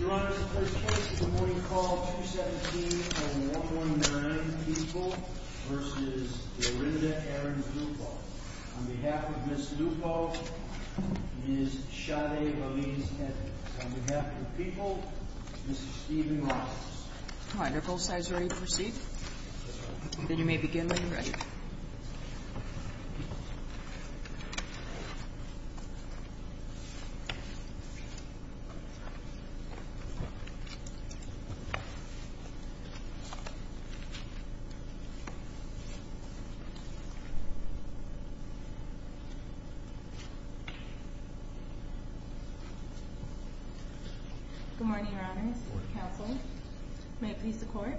Your Honor, the first case is a morning call, 217-0119, People v. Delrinda Ahrens-Lupo. On behalf of Ms. Lupo, Ms. Shade Valiz-Hedrick. On behalf of People, Mr. Steven Rogers. All right, are both sides ready to proceed? Yes, Your Honor. Then you may begin when you're ready. Good morning, Your Honors. Counsel, may it please the Court.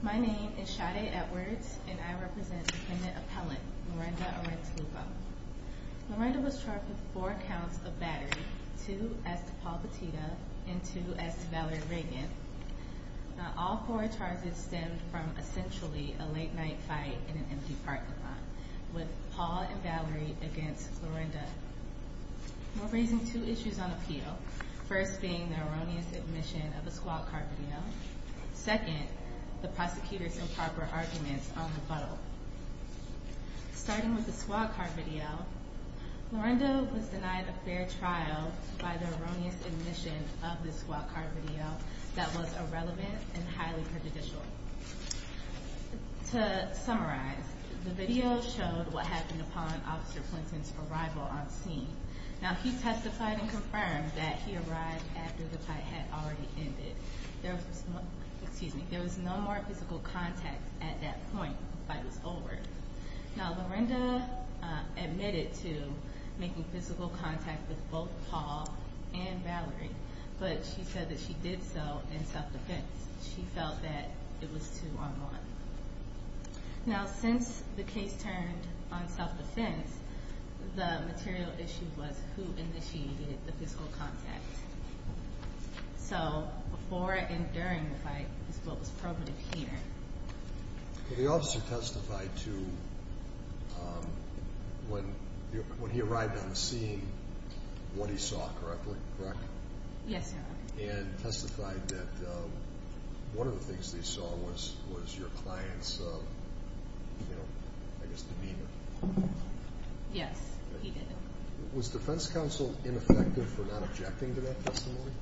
My name is Shade Edwards, and I represent Dependent Appellant, Lorinda Ahrens-Lupo. Lorinda was charged with four counts of battery, two as to Paul Petito and two as to Valerie Reagan. Now, all four charges stemmed from essentially a late night fight in an empty parking lot with Paul and Valerie against Lorinda. We're raising two issues on appeal, first being the erroneous admission of a squad car video. Second, the prosecutor's improper arguments on the photo. Starting with the squad car video, Lorinda was denied a fair trial by the erroneous admission of the squad car video that was irrelevant and highly prejudicial. To summarize, the video showed what happened upon Officer Clinton's arrival on scene. Now, he testified and confirmed that he arrived after the fight had already ended. There was no more physical contact at that point, the fight was over. Now, Lorinda admitted to making physical contact with both Paul and Valerie, but she said that she did so in self-defense. She felt that it was two on one. Now, since the case turned on self-defense, the material issue was who initiated the physical contact. So, before and during the fight is what was probative here. The officer testified to, when he arrived on the scene, what he saw correctly, correct? Yes, Your Honor. And testified that one of the things they saw was your client's, you know, I guess demeanor. Yes, he did. Was defense counsel ineffective for not objecting to that testimony?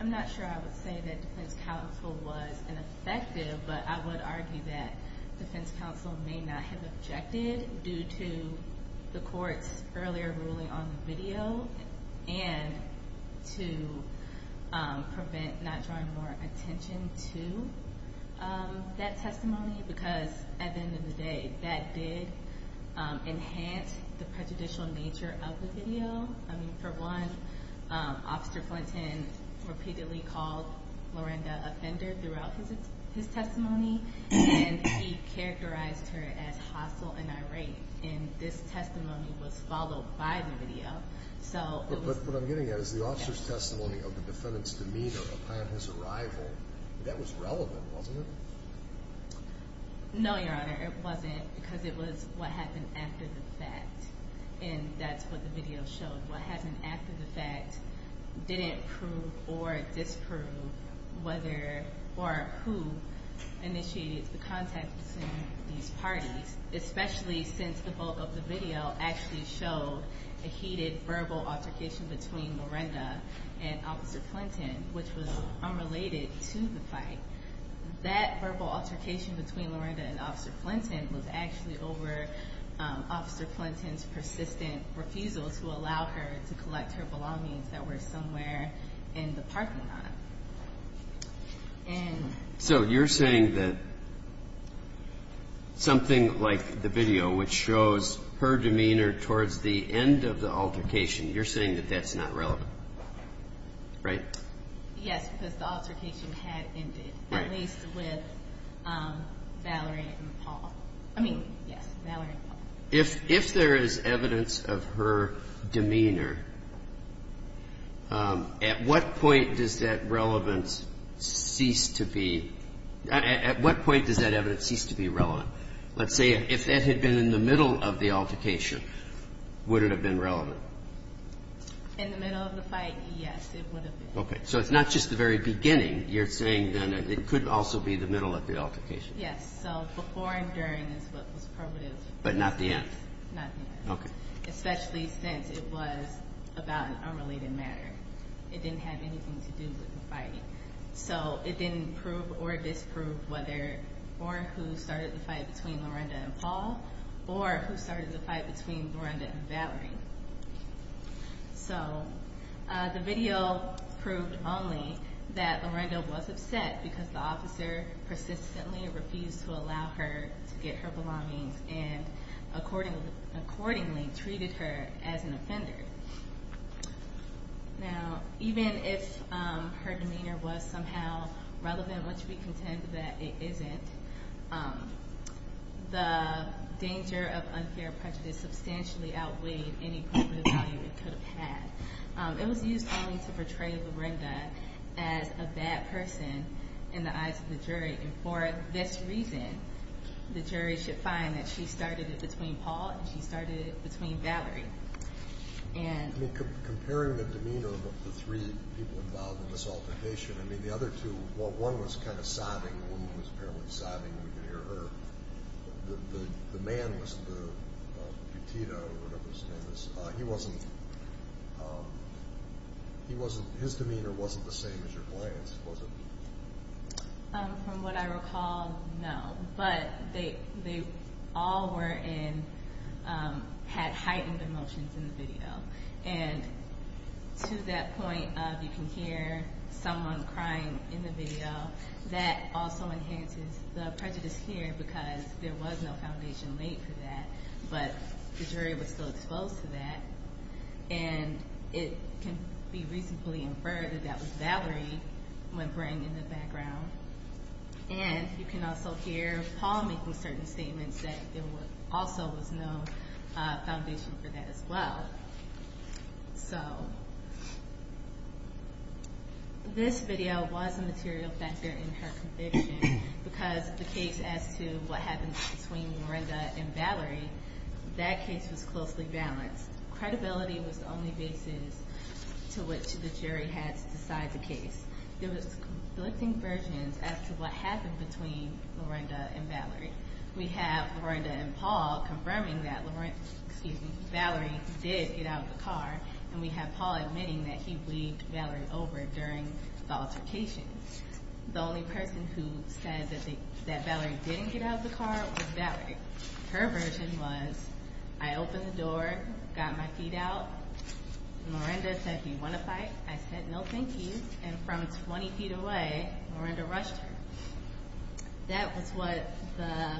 I'm not sure I would say that defense counsel was ineffective, but I would argue that defense counsel may not have objected due to the court's earlier ruling on the video and to prevent not drawing more attention to that testimony, because at the end of the day, that did enhance the prejudicial nature of the video. I mean, for one, Officer Flinton repeatedly called Lorinda a fender throughout his testimony, and he characterized her as hostile and irate. And this testimony was followed by the video. But what I'm getting at is the officer's testimony of the defendant's demeanor upon his arrival, that was relevant, wasn't it? No, Your Honor, it wasn't, because it was what happened after the fact. And that's what the video showed. What happened after the fact didn't prove or disprove whether or who initiated the contact between these parties, especially since the bulk of the video actually showed a heated verbal altercation between Lorinda and Officer Flinton, which was unrelated to the fight. That verbal altercation between Lorinda and Officer Flinton was actually over Officer Flinton's persistent refusal to allow her to collect her belongings that were somewhere in the parking lot. So you're saying that something like the video, which shows her demeanor towards the end of the altercation, you're saying that that's not relevant, right? Yes, because the altercation had ended, at least with Valerie and Paul. I mean, yes, Valerie and Paul. If there is evidence of her demeanor, at what point does that relevance cease to be? At what point does that evidence cease to be relevant? Let's say if that had been in the middle of the altercation, would it have been relevant? In the middle of the fight, yes, it would have been. Okay, so it's not just the very beginning. You're saying then it could also be the middle of the altercation. Yes, so before and during is what was probative. But not the end? Not the end. Okay. Especially since it was about an unrelated matter. It didn't have anything to do with the fight. So it didn't prove or disprove whether or who started the fight between Lorinda and Paul or who started the fight between Lorinda and Valerie. So the video proved only that Lorinda was upset because the officer persistently refused to allow her to get her belongings and accordingly treated her as an offender. Now, even if her demeanor was somehow relevant, which we contend that it isn't, the danger of unfair prejudice substantially outweighed any positive value it could have had. It was used only to portray Lorinda as a bad person in the eyes of the jury. And for this reason, the jury should find that she started it between Paul and she started it between Valerie. I mean, comparing the demeanor of the three people involved in this altercation, I mean, the other two, one was kind of sobbing, the woman was apparently sobbing, we could hear her. The man was, Petito or whatever his name is, he wasn't, his demeanor wasn't the same as your client's, was it? From what I recall, no, but they all were in, had heightened emotions in the video. And to that point of you can hear someone crying in the video, that also enhances the prejudice here because there was no foundation laid for that, but the jury was still exposed to that. And it can be reasonably inferred that that was Valerie, my friend in the background. And you can also hear Paul making certain statements that there also was no foundation for that as well. So, this video was a material factor in her conviction because the case as to what happened between Lorenda and Valerie, that case was closely balanced. Credibility was the only basis to which the jury had to decide the case. There was conflicting versions as to what happened between Lorenda and Valerie. We have Lorenda and Paul confirming that Valerie did get out of the car, and we have Paul admitting that he weaved Valerie over during the altercation. The only person who said that Valerie didn't get out of the car was Valerie. Her version was, I opened the door, got my feet out, Lorenda said, do you want to fight? I said, no thank you, and from 20 feet away, Lorenda rushed her. That was what the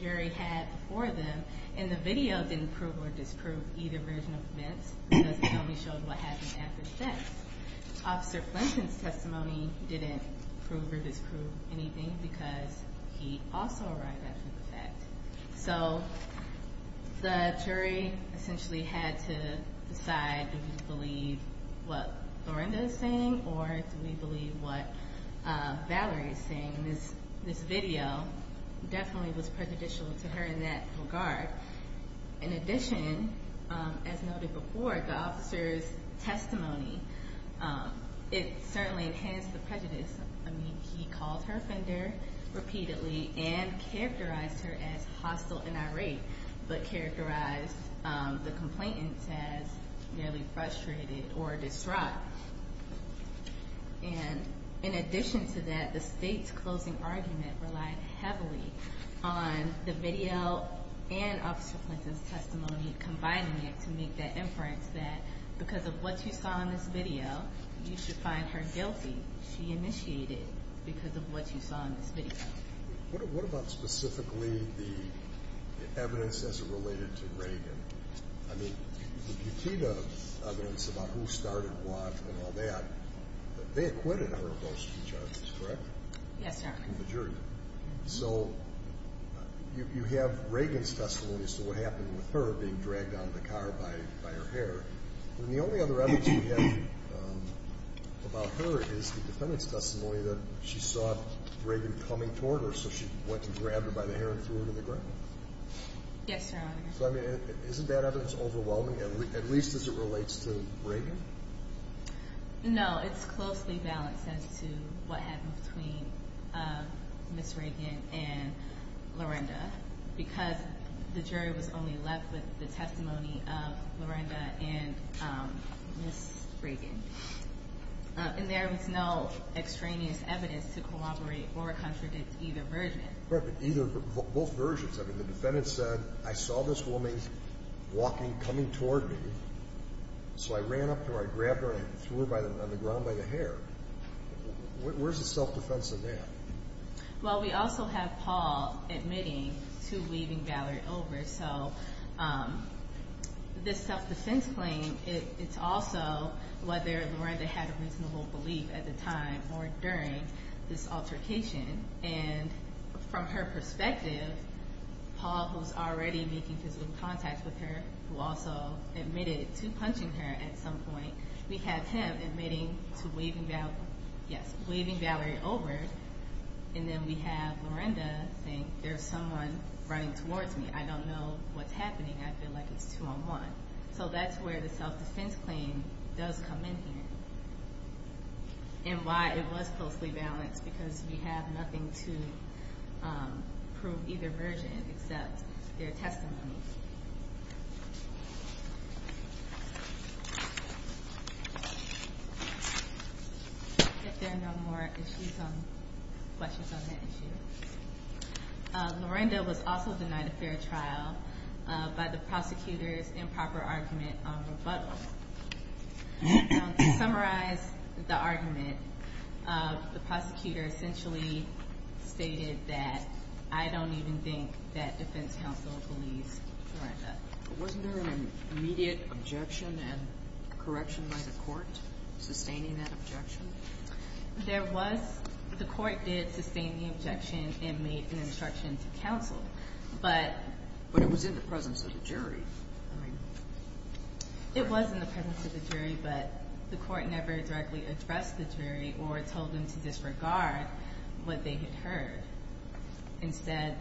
jury had before them. And the video didn't prove or disprove either version of events because it only showed what happened after the fact. Officer Flinton's testimony didn't prove or disprove anything because he also arrived after the fact. So the jury essentially had to decide, do we believe what Lorenda is saying or do we believe what Valerie is saying? This video definitely was prejudicial to her in that regard. In addition, as noted before, the officer's testimony, it certainly enhanced the prejudice. I mean, he called her offender repeatedly and characterized her as hostile and irate, but characterized the complainants as nearly frustrated or distraught. And in addition to that, the state's closing argument relied heavily on the video and Officer Flinton's testimony combining it to make that inference that because of what you saw in this video, you should find her guilty. She initiated because of what you saw in this video. What about specifically the evidence as it related to Reagan? I mean, you see the evidence about who started what and all that, but they acquitted her of most of the charges, correct? Yes, Your Honor. So you have Reagan's testimony as to what happened with her being dragged out of the car by her hair. And the only other evidence we have about her is the defendant's testimony that she saw Reagan coming toward her, so she went and grabbed her by the hair and threw her to the ground. Yes, Your Honor. So, I mean, isn't that evidence overwhelming, at least as it relates to Reagan? No, it's closely balanced as to what happened between Ms. Reagan and Lorenda, because the jury was only left with the testimony of Lorenda and Ms. Reagan. And there was no extraneous evidence to corroborate or contradict either version. Correct, but both versions. I mean, the defendant said, I saw this woman walking, coming toward me, so I ran up to her, I grabbed her, and I threw her on the ground by the hair. Where's the self-defense in that? Well, we also have Paul admitting to leaving Valerie over, so this self-defense claim, it's also whether Lorenda had a reasonable belief at the time or during this altercation. And from her perspective, Paul, who's already making physical contact with her, who also admitted to punching her at some point, we have him admitting to leaving Valerie over, and then we have Lorenda saying, there's someone running towards me. I don't know what's happening. I feel like it's two on one. So that's where the self-defense claim does come in here and why it was closely balanced, because we have nothing to prove either version except their testimony. If there are no more questions on that issue. Lorenda was also denied a fair trial by the prosecutor's improper argument on rebuttal. To summarize the argument, the prosecutor essentially stated that, I don't even think that defense counsel believes Lorenda. Wasn't there an immediate objection and correction by the court sustaining that objection? There was. The court did sustain the objection and made an instruction to counsel. But it was in the presence of the jury. It was in the presence of the jury, but the court never directly addressed the jury or told them to disregard what they had heard. Instead,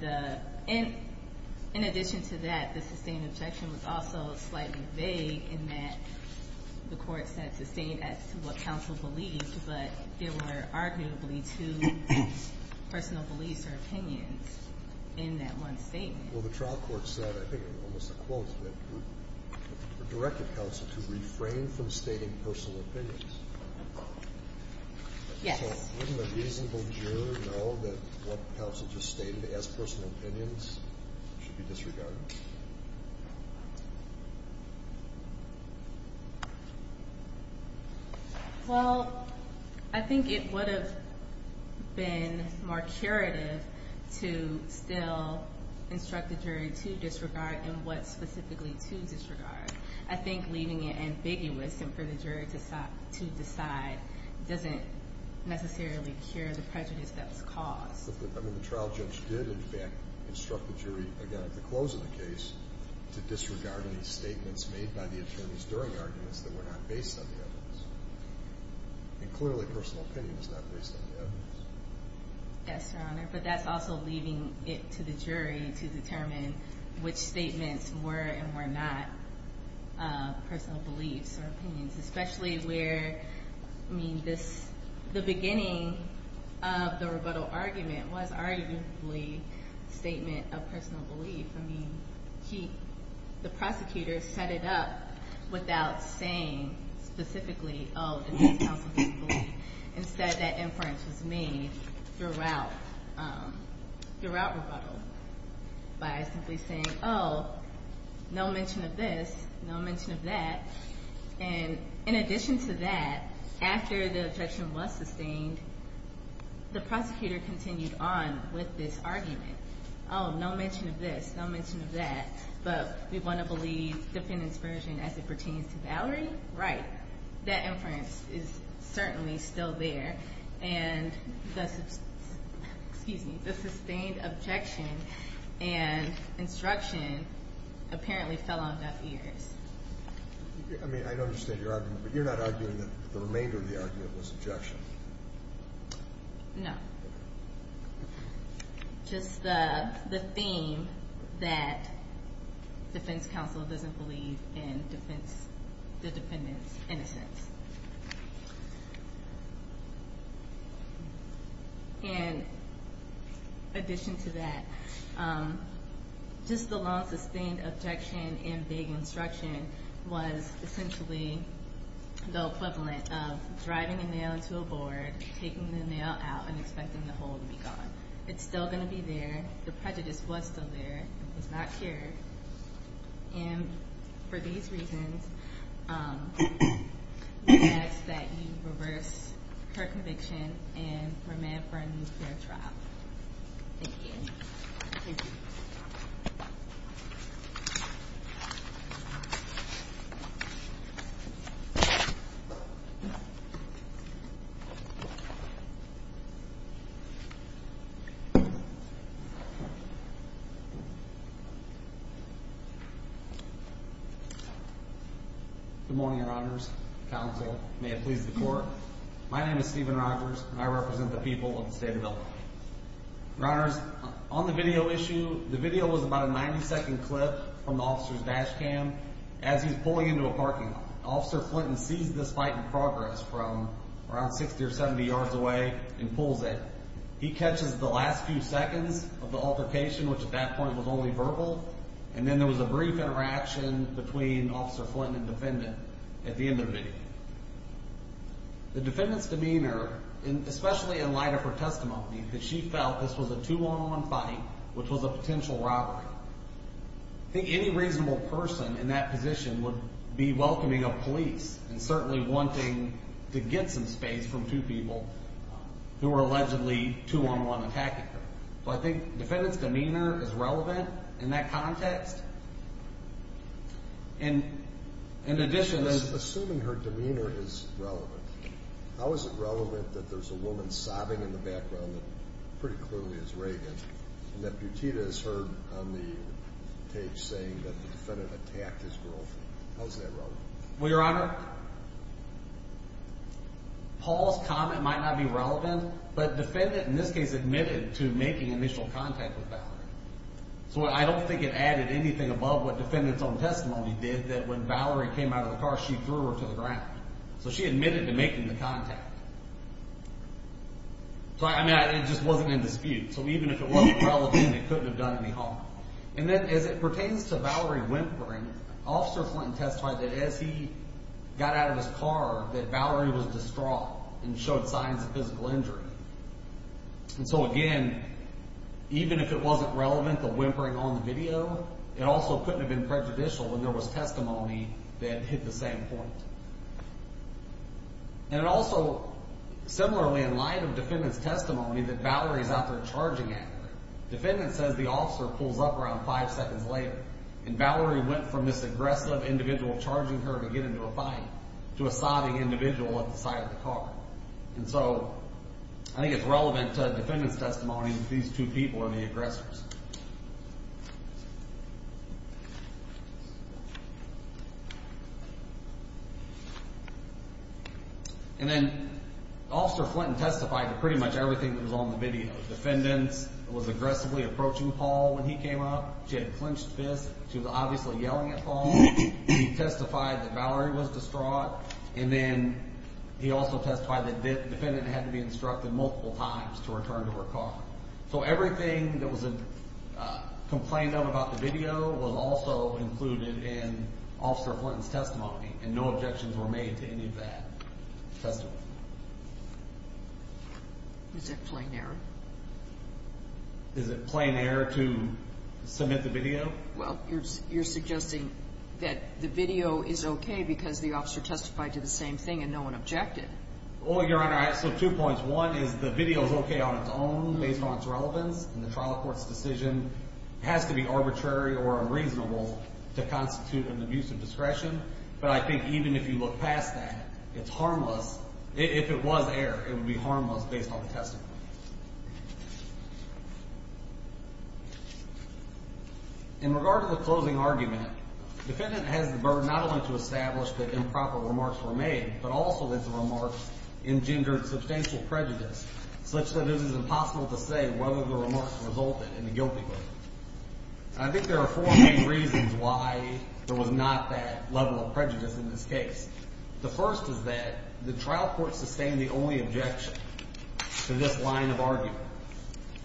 in addition to that, the sustained objection was also slightly vague in that the court said sustained as to what counsel believed, but there were arguably two personal beliefs or opinions in that one statement. Well, the trial court said, I think almost a quote of it, directed counsel to refrain from stating personal opinions. Yes. So wouldn't a reasonable juror know that what counsel just stated as personal opinions should be disregarded? Well, I think it would have been more curative to still instruct the jury to disregard and what specifically to disregard. I think leaving it ambiguous and for the jury to decide doesn't necessarily cure the prejudice that was caused. I mean, the trial judge did, in fact, instruct the jury, again, at the close of the case, to disregard any statements made by the attorneys during arguments that were not based on the evidence. And clearly, personal opinion is not based on the evidence. Yes, Your Honor, but that's also leaving it to the jury to determine which statements were and were not personal beliefs or opinions, especially where, I mean, the beginning of the rebuttal argument was arguably a statement of personal belief. I mean, the prosecutor set it up without saying specifically, oh, this counsel didn't believe. Instead, that inference was made throughout rebuttal by simply saying, oh, no mention of this, no mention of that. And in addition to that, after the objection was sustained, the prosecutor continued on with this argument. Oh, no mention of this, no mention of that, but we want to believe defendant's version as it pertains to Valerie? Right. That inference is certainly still there. And the sustained objection and instruction apparently fell on deaf ears. I mean, I understand your argument, but you're not arguing that the remainder of the argument was objection. No. Just the theme that defense counsel doesn't believe in the defendant's innocence. And in addition to that, just the long sustained objection and vague instruction was essentially the equivalent of driving a nail into a board, taking the nail out and expecting the hole to be gone. It's still going to be there. The prejudice was still there. It's not cured. And for these reasons, we ask that you reverse her conviction and remand for a nuclear trial. Thank you. Thank you. Good morning, Your Honors. Counsel, may it please the court. My name is Stephen Rogers, and I represent the people of the state of Illinois. Your Honors, on the video issue, the video was about a 90-second clip from the officer's dash cam as he's pulling into a parking lot. Officer Flinton sees this fight in progress from around 60 or 70 yards away and pulls in. He catches the last few seconds of the altercation, which at that point was only verbal, and then there was a brief interaction between Officer Flinton and the defendant at the end of the video. The defendant's demeanor, especially in light of her testimony, that she felt this was a two-on-one fight, which was a potential robbery. I think any reasonable person in that position would be welcoming of police and certainly wanting to get some space from two people who were allegedly two-on-one attacking her. So I think the defendant's demeanor is relevant in that context. And in addition to this— Assuming her demeanor is relevant, how is it relevant that there's a woman sobbing in the background that pretty clearly is Reagan and that Butita is heard on the tape saying that the defendant attacked his girlfriend? How is that relevant? Well, Your Honor, Paul's comment might not be relevant, but the defendant in this case admitted to making initial contact with Valerie. So I don't think it added anything above what the defendant's own testimony did, that when Valerie came out of the car, she threw her to the ground. So she admitted to making the contact. So, I mean, it just wasn't in dispute. So even if it wasn't relevant, it couldn't have done any harm. And then as it pertains to Valerie whimpering, Officer Flint testified that as he got out of his car that Valerie was distraught and showed signs of physical injury. And so, again, even if it wasn't relevant, the whimpering on the video, it also couldn't have been prejudicial when there was testimony that hit the same point. And also, similarly, in light of defendant's testimony that Valerie's out there charging at her, defendant says the officer pulls up around five seconds later and Valerie went from this aggressive individual charging her to get into a fight to a sobbing individual at the side of the car. And so I think it's relevant to defendant's testimony that these two people are the aggressors. And then Officer Flint testified to pretty much everything that was on the video. Defendant was aggressively approaching Paul when he came up. She had clenched fists. She was obviously yelling at Paul. She testified that Valerie was distraught. And then he also testified that defendant had to be instructed multiple times to return to her car. So everything that was complained of about the video was also included in Officer Flint's testimony, and no objections were made to any of that testimony. Is it plain error? Is it plain error to submit the video? Well, you're suggesting that the video is okay because the officer testified to the same thing and no one objected. Well, Your Honor, so two points. One is the video is okay on its own based on its relevance in the trial court's decision. It has to be arbitrary or unreasonable to constitute an abuse of discretion. But I think even if you look past that, it's harmless. If it was error, it would be harmless based on the testimony. In regard to the closing argument, defendant has the burden not only to establish that improper remarks were made but also that the remarks engendered substantial prejudice such that it is impossible to say whether the remarks resulted in a guilty verdict. I think there are four main reasons why there was not that level of prejudice in this case. The first is that the trial court sustained the only objection to this line of argument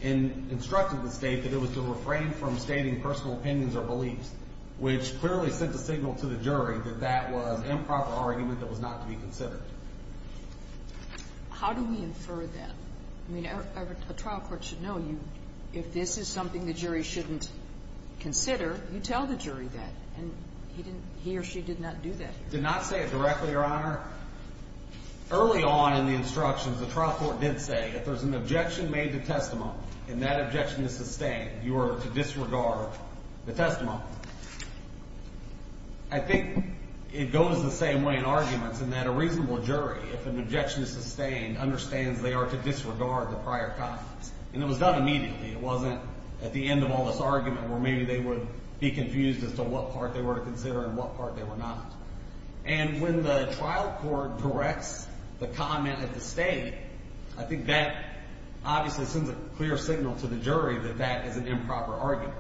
and instructed the State that it was to refrain from stating personal opinions or beliefs, which clearly sent a signal to the jury that that was improper argument that was not to be considered. How do we infer that? I mean, a trial court should know if this is something the jury shouldn't consider, you tell the jury that. And he or she did not do that. I did not say it directly, Your Honor. Early on in the instructions, the trial court did say if there's an objection made to testimony and that objection is sustained, you are to disregard the testimony. I think it goes the same way in arguments in that a reasonable jury, if an objection is sustained, understands they are to disregard the prior comments. And it was done immediately. It wasn't at the end of all this argument where maybe they would be confused as to what part they were to consider and what part they were not. And when the trial court directs the comment at the State, I think that obviously sends a clear signal to the jury that that is an improper argument.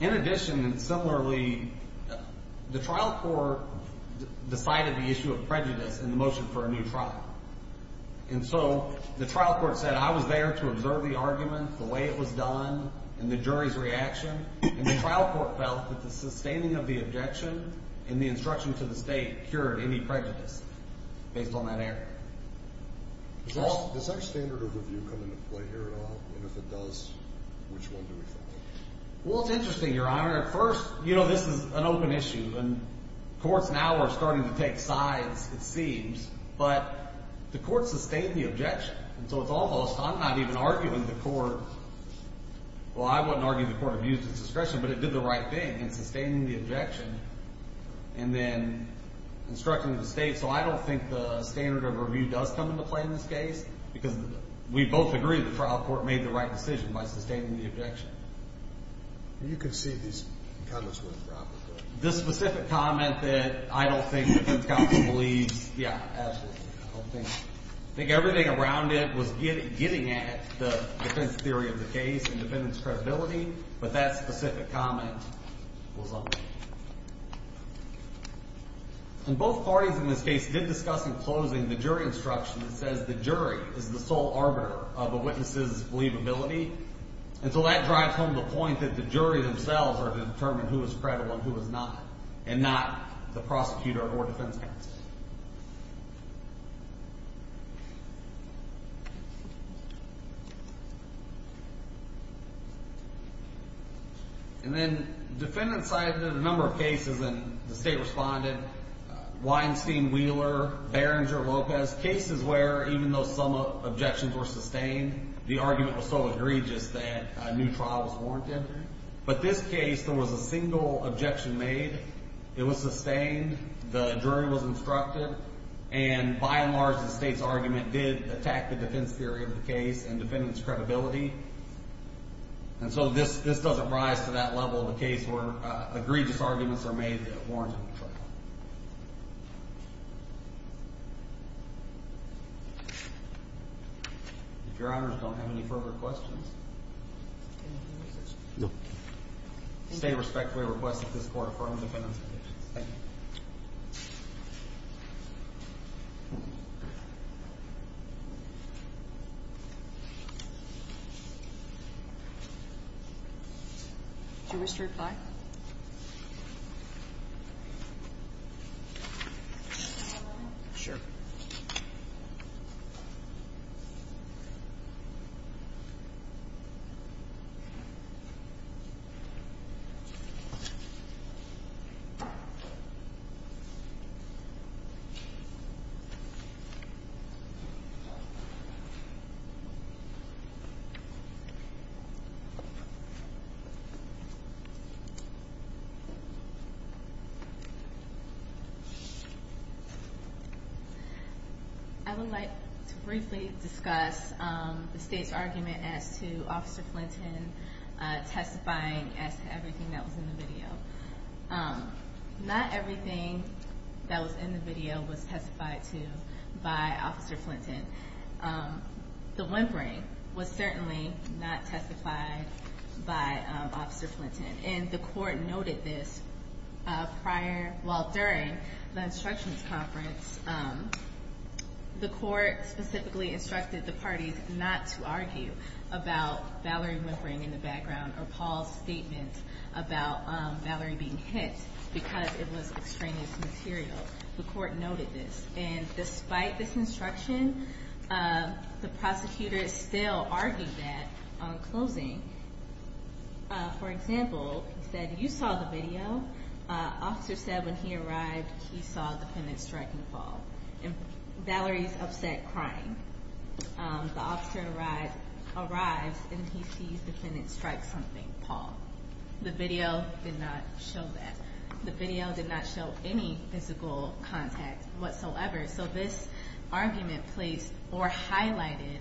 In addition and similarly, the trial court decided the issue of prejudice in the motion for a new trial. And so the trial court said I was there to observe the argument, the way it was done, and the jury's reaction. And the trial court felt that the sustaining of the objection and the instruction to the State cured any prejudice based on that error. Does our standard of review come into play here at all? And if it does, which one do we follow? Well, it's interesting, Your Honor. First, you know this is an open issue, and courts now are starting to take sides, it seems. But the court sustained the objection, and so it's almost I'm not even arguing the court. Well, I wouldn't argue the court abused its discretion, but it did the right thing in sustaining the objection and then instructing the State. So I don't think the standard of review does come into play in this case because we both agree the trial court made the right decision by sustaining the objection. You can see these comments were improper. This specific comment that I don't think the defense counsel believes, yeah, absolutely. I don't think. I think everything around it was getting at the defense theory of the case and defendant's credibility, but that specific comment was unfair. And both parties in this case did discuss in closing the jury instruction that says the jury is the sole arbiter of a witness's believability. And so that drives home the point that the jury themselves are to determine who is credible and who is not, and not the prosecutor or defense counsel. And then defendants cited in a number of cases, and the State responded, Weinstein, Wheeler, Berenger, Lopez, cases where even though some objections were sustained, the argument was so egregious that a new trial was warranted. But this case, there was a single objection made. It was sustained. The jury was instructed. And by and large, the State's argument did attack the defense theory of the case and defendant's credibility. And so this doesn't rise to that level of a case where egregious arguments are made that warrant a new trial. If Your Honors don't have any further questions. No. State respectfully requests that this Court affirm the defendant's evidence. Thank you. Do you wish to reply? Sure. Thank you. I would like to briefly discuss the State's argument as to Officer Flinton testifying as to everything that was in the video. Not everything that was in the video was testified to by Officer Flinton. The whimpering was certainly not testified by Officer Flinton. And the Court noted this prior, well, during the Instructions Conference. The Court specifically instructed the parties not to argue about Valerie whimpering in the background or Paul's statement about Valerie being hit because it was extraneous material. The Court noted this. And despite this instruction, the prosecutors still argued that on closing. For example, they said, you saw the video. Officer said when he arrived, he saw the defendant striking Paul. And Valerie's upset, crying. The officer arrives and he sees the defendant strike something, Paul. The video did not show that. The video did not show any physical contact whatsoever. So this argument placed or highlighted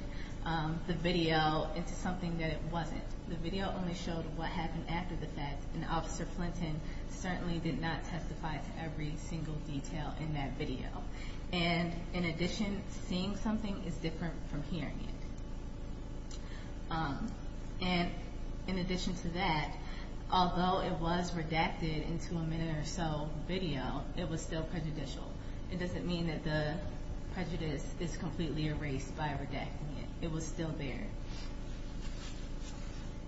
the video into something that it wasn't. The video only showed what happened after the fact. And Officer Flinton certainly did not testify to every single detail in that video. And in addition, seeing something is different from hearing it. And in addition to that, although it was redacted into a minute or so video, it was still prejudicial. It doesn't mean that the prejudice is completely erased by redacting it. It was still there.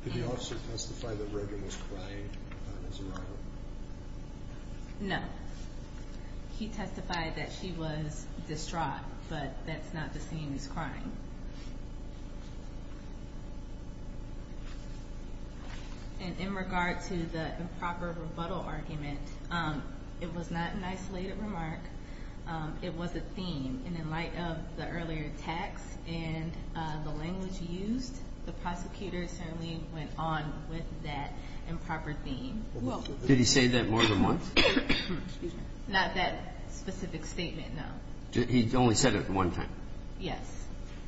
Did the officer testify that Regan was crying on his arrival? No. He testified that she was distraught, but that's not the same as crying. And in regard to the improper rebuttal argument, it was not an isolated remark. It was a theme. And in light of the earlier text and the language used, the prosecutor certainly went on with that improper theme. Did he say that more than once? Not that specific statement, no. He only said it one time. Yes.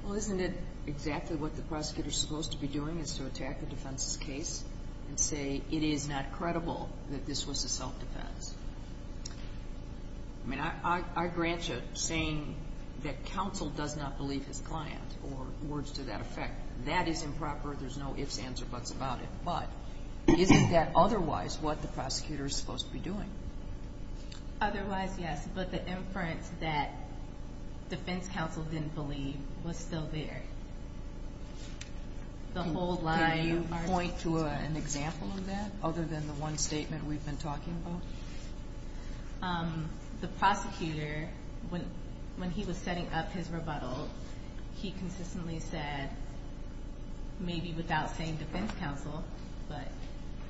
Well, isn't it exactly what the prosecutor is supposed to be doing is to attack a defense's case and say it is not credible that this was a self-defense? I mean, I grant you saying that counsel does not believe his client or words to that effect. That is improper. There's no ifs, ands, or buts about it. But isn't that otherwise what the prosecutor is supposed to be doing? Otherwise, yes. But the inference that defense counsel didn't believe was still there. The whole line of argument. Can you point to an example of that other than the one statement we've been talking about? The prosecutor, when he was setting up his rebuttal, he consistently said, maybe without saying defense counsel,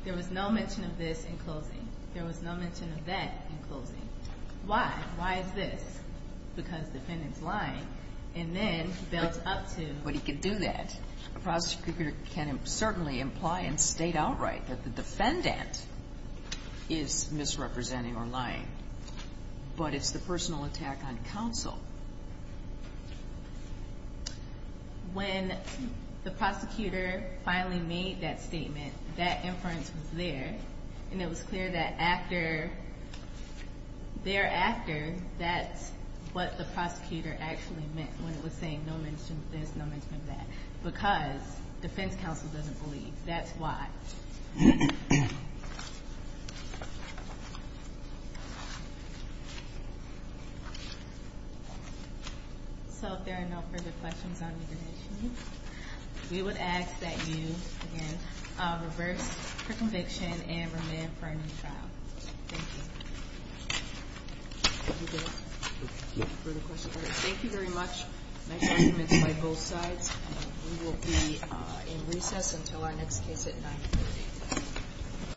there was no mention of that in closing. Why? Why is this? Because defendant's lying. And then he built up to. But he can do that. A prosecutor can certainly imply and state outright that the defendant is misrepresenting or lying. But it's the personal attack on counsel. When the prosecutor finally made that statement, that inference was there. And it was clear that thereafter, that's what the prosecutor actually meant when it was saying no mention of this, no mention of that. Because defense counsel doesn't believe. That's why. So if there are no further questions, I'm going to continue. We would ask that you, again, reverse your conviction and remain for a new trial. Thank you. Thank you very much. My argument is by both sides. We will be in recess until our next case at 9.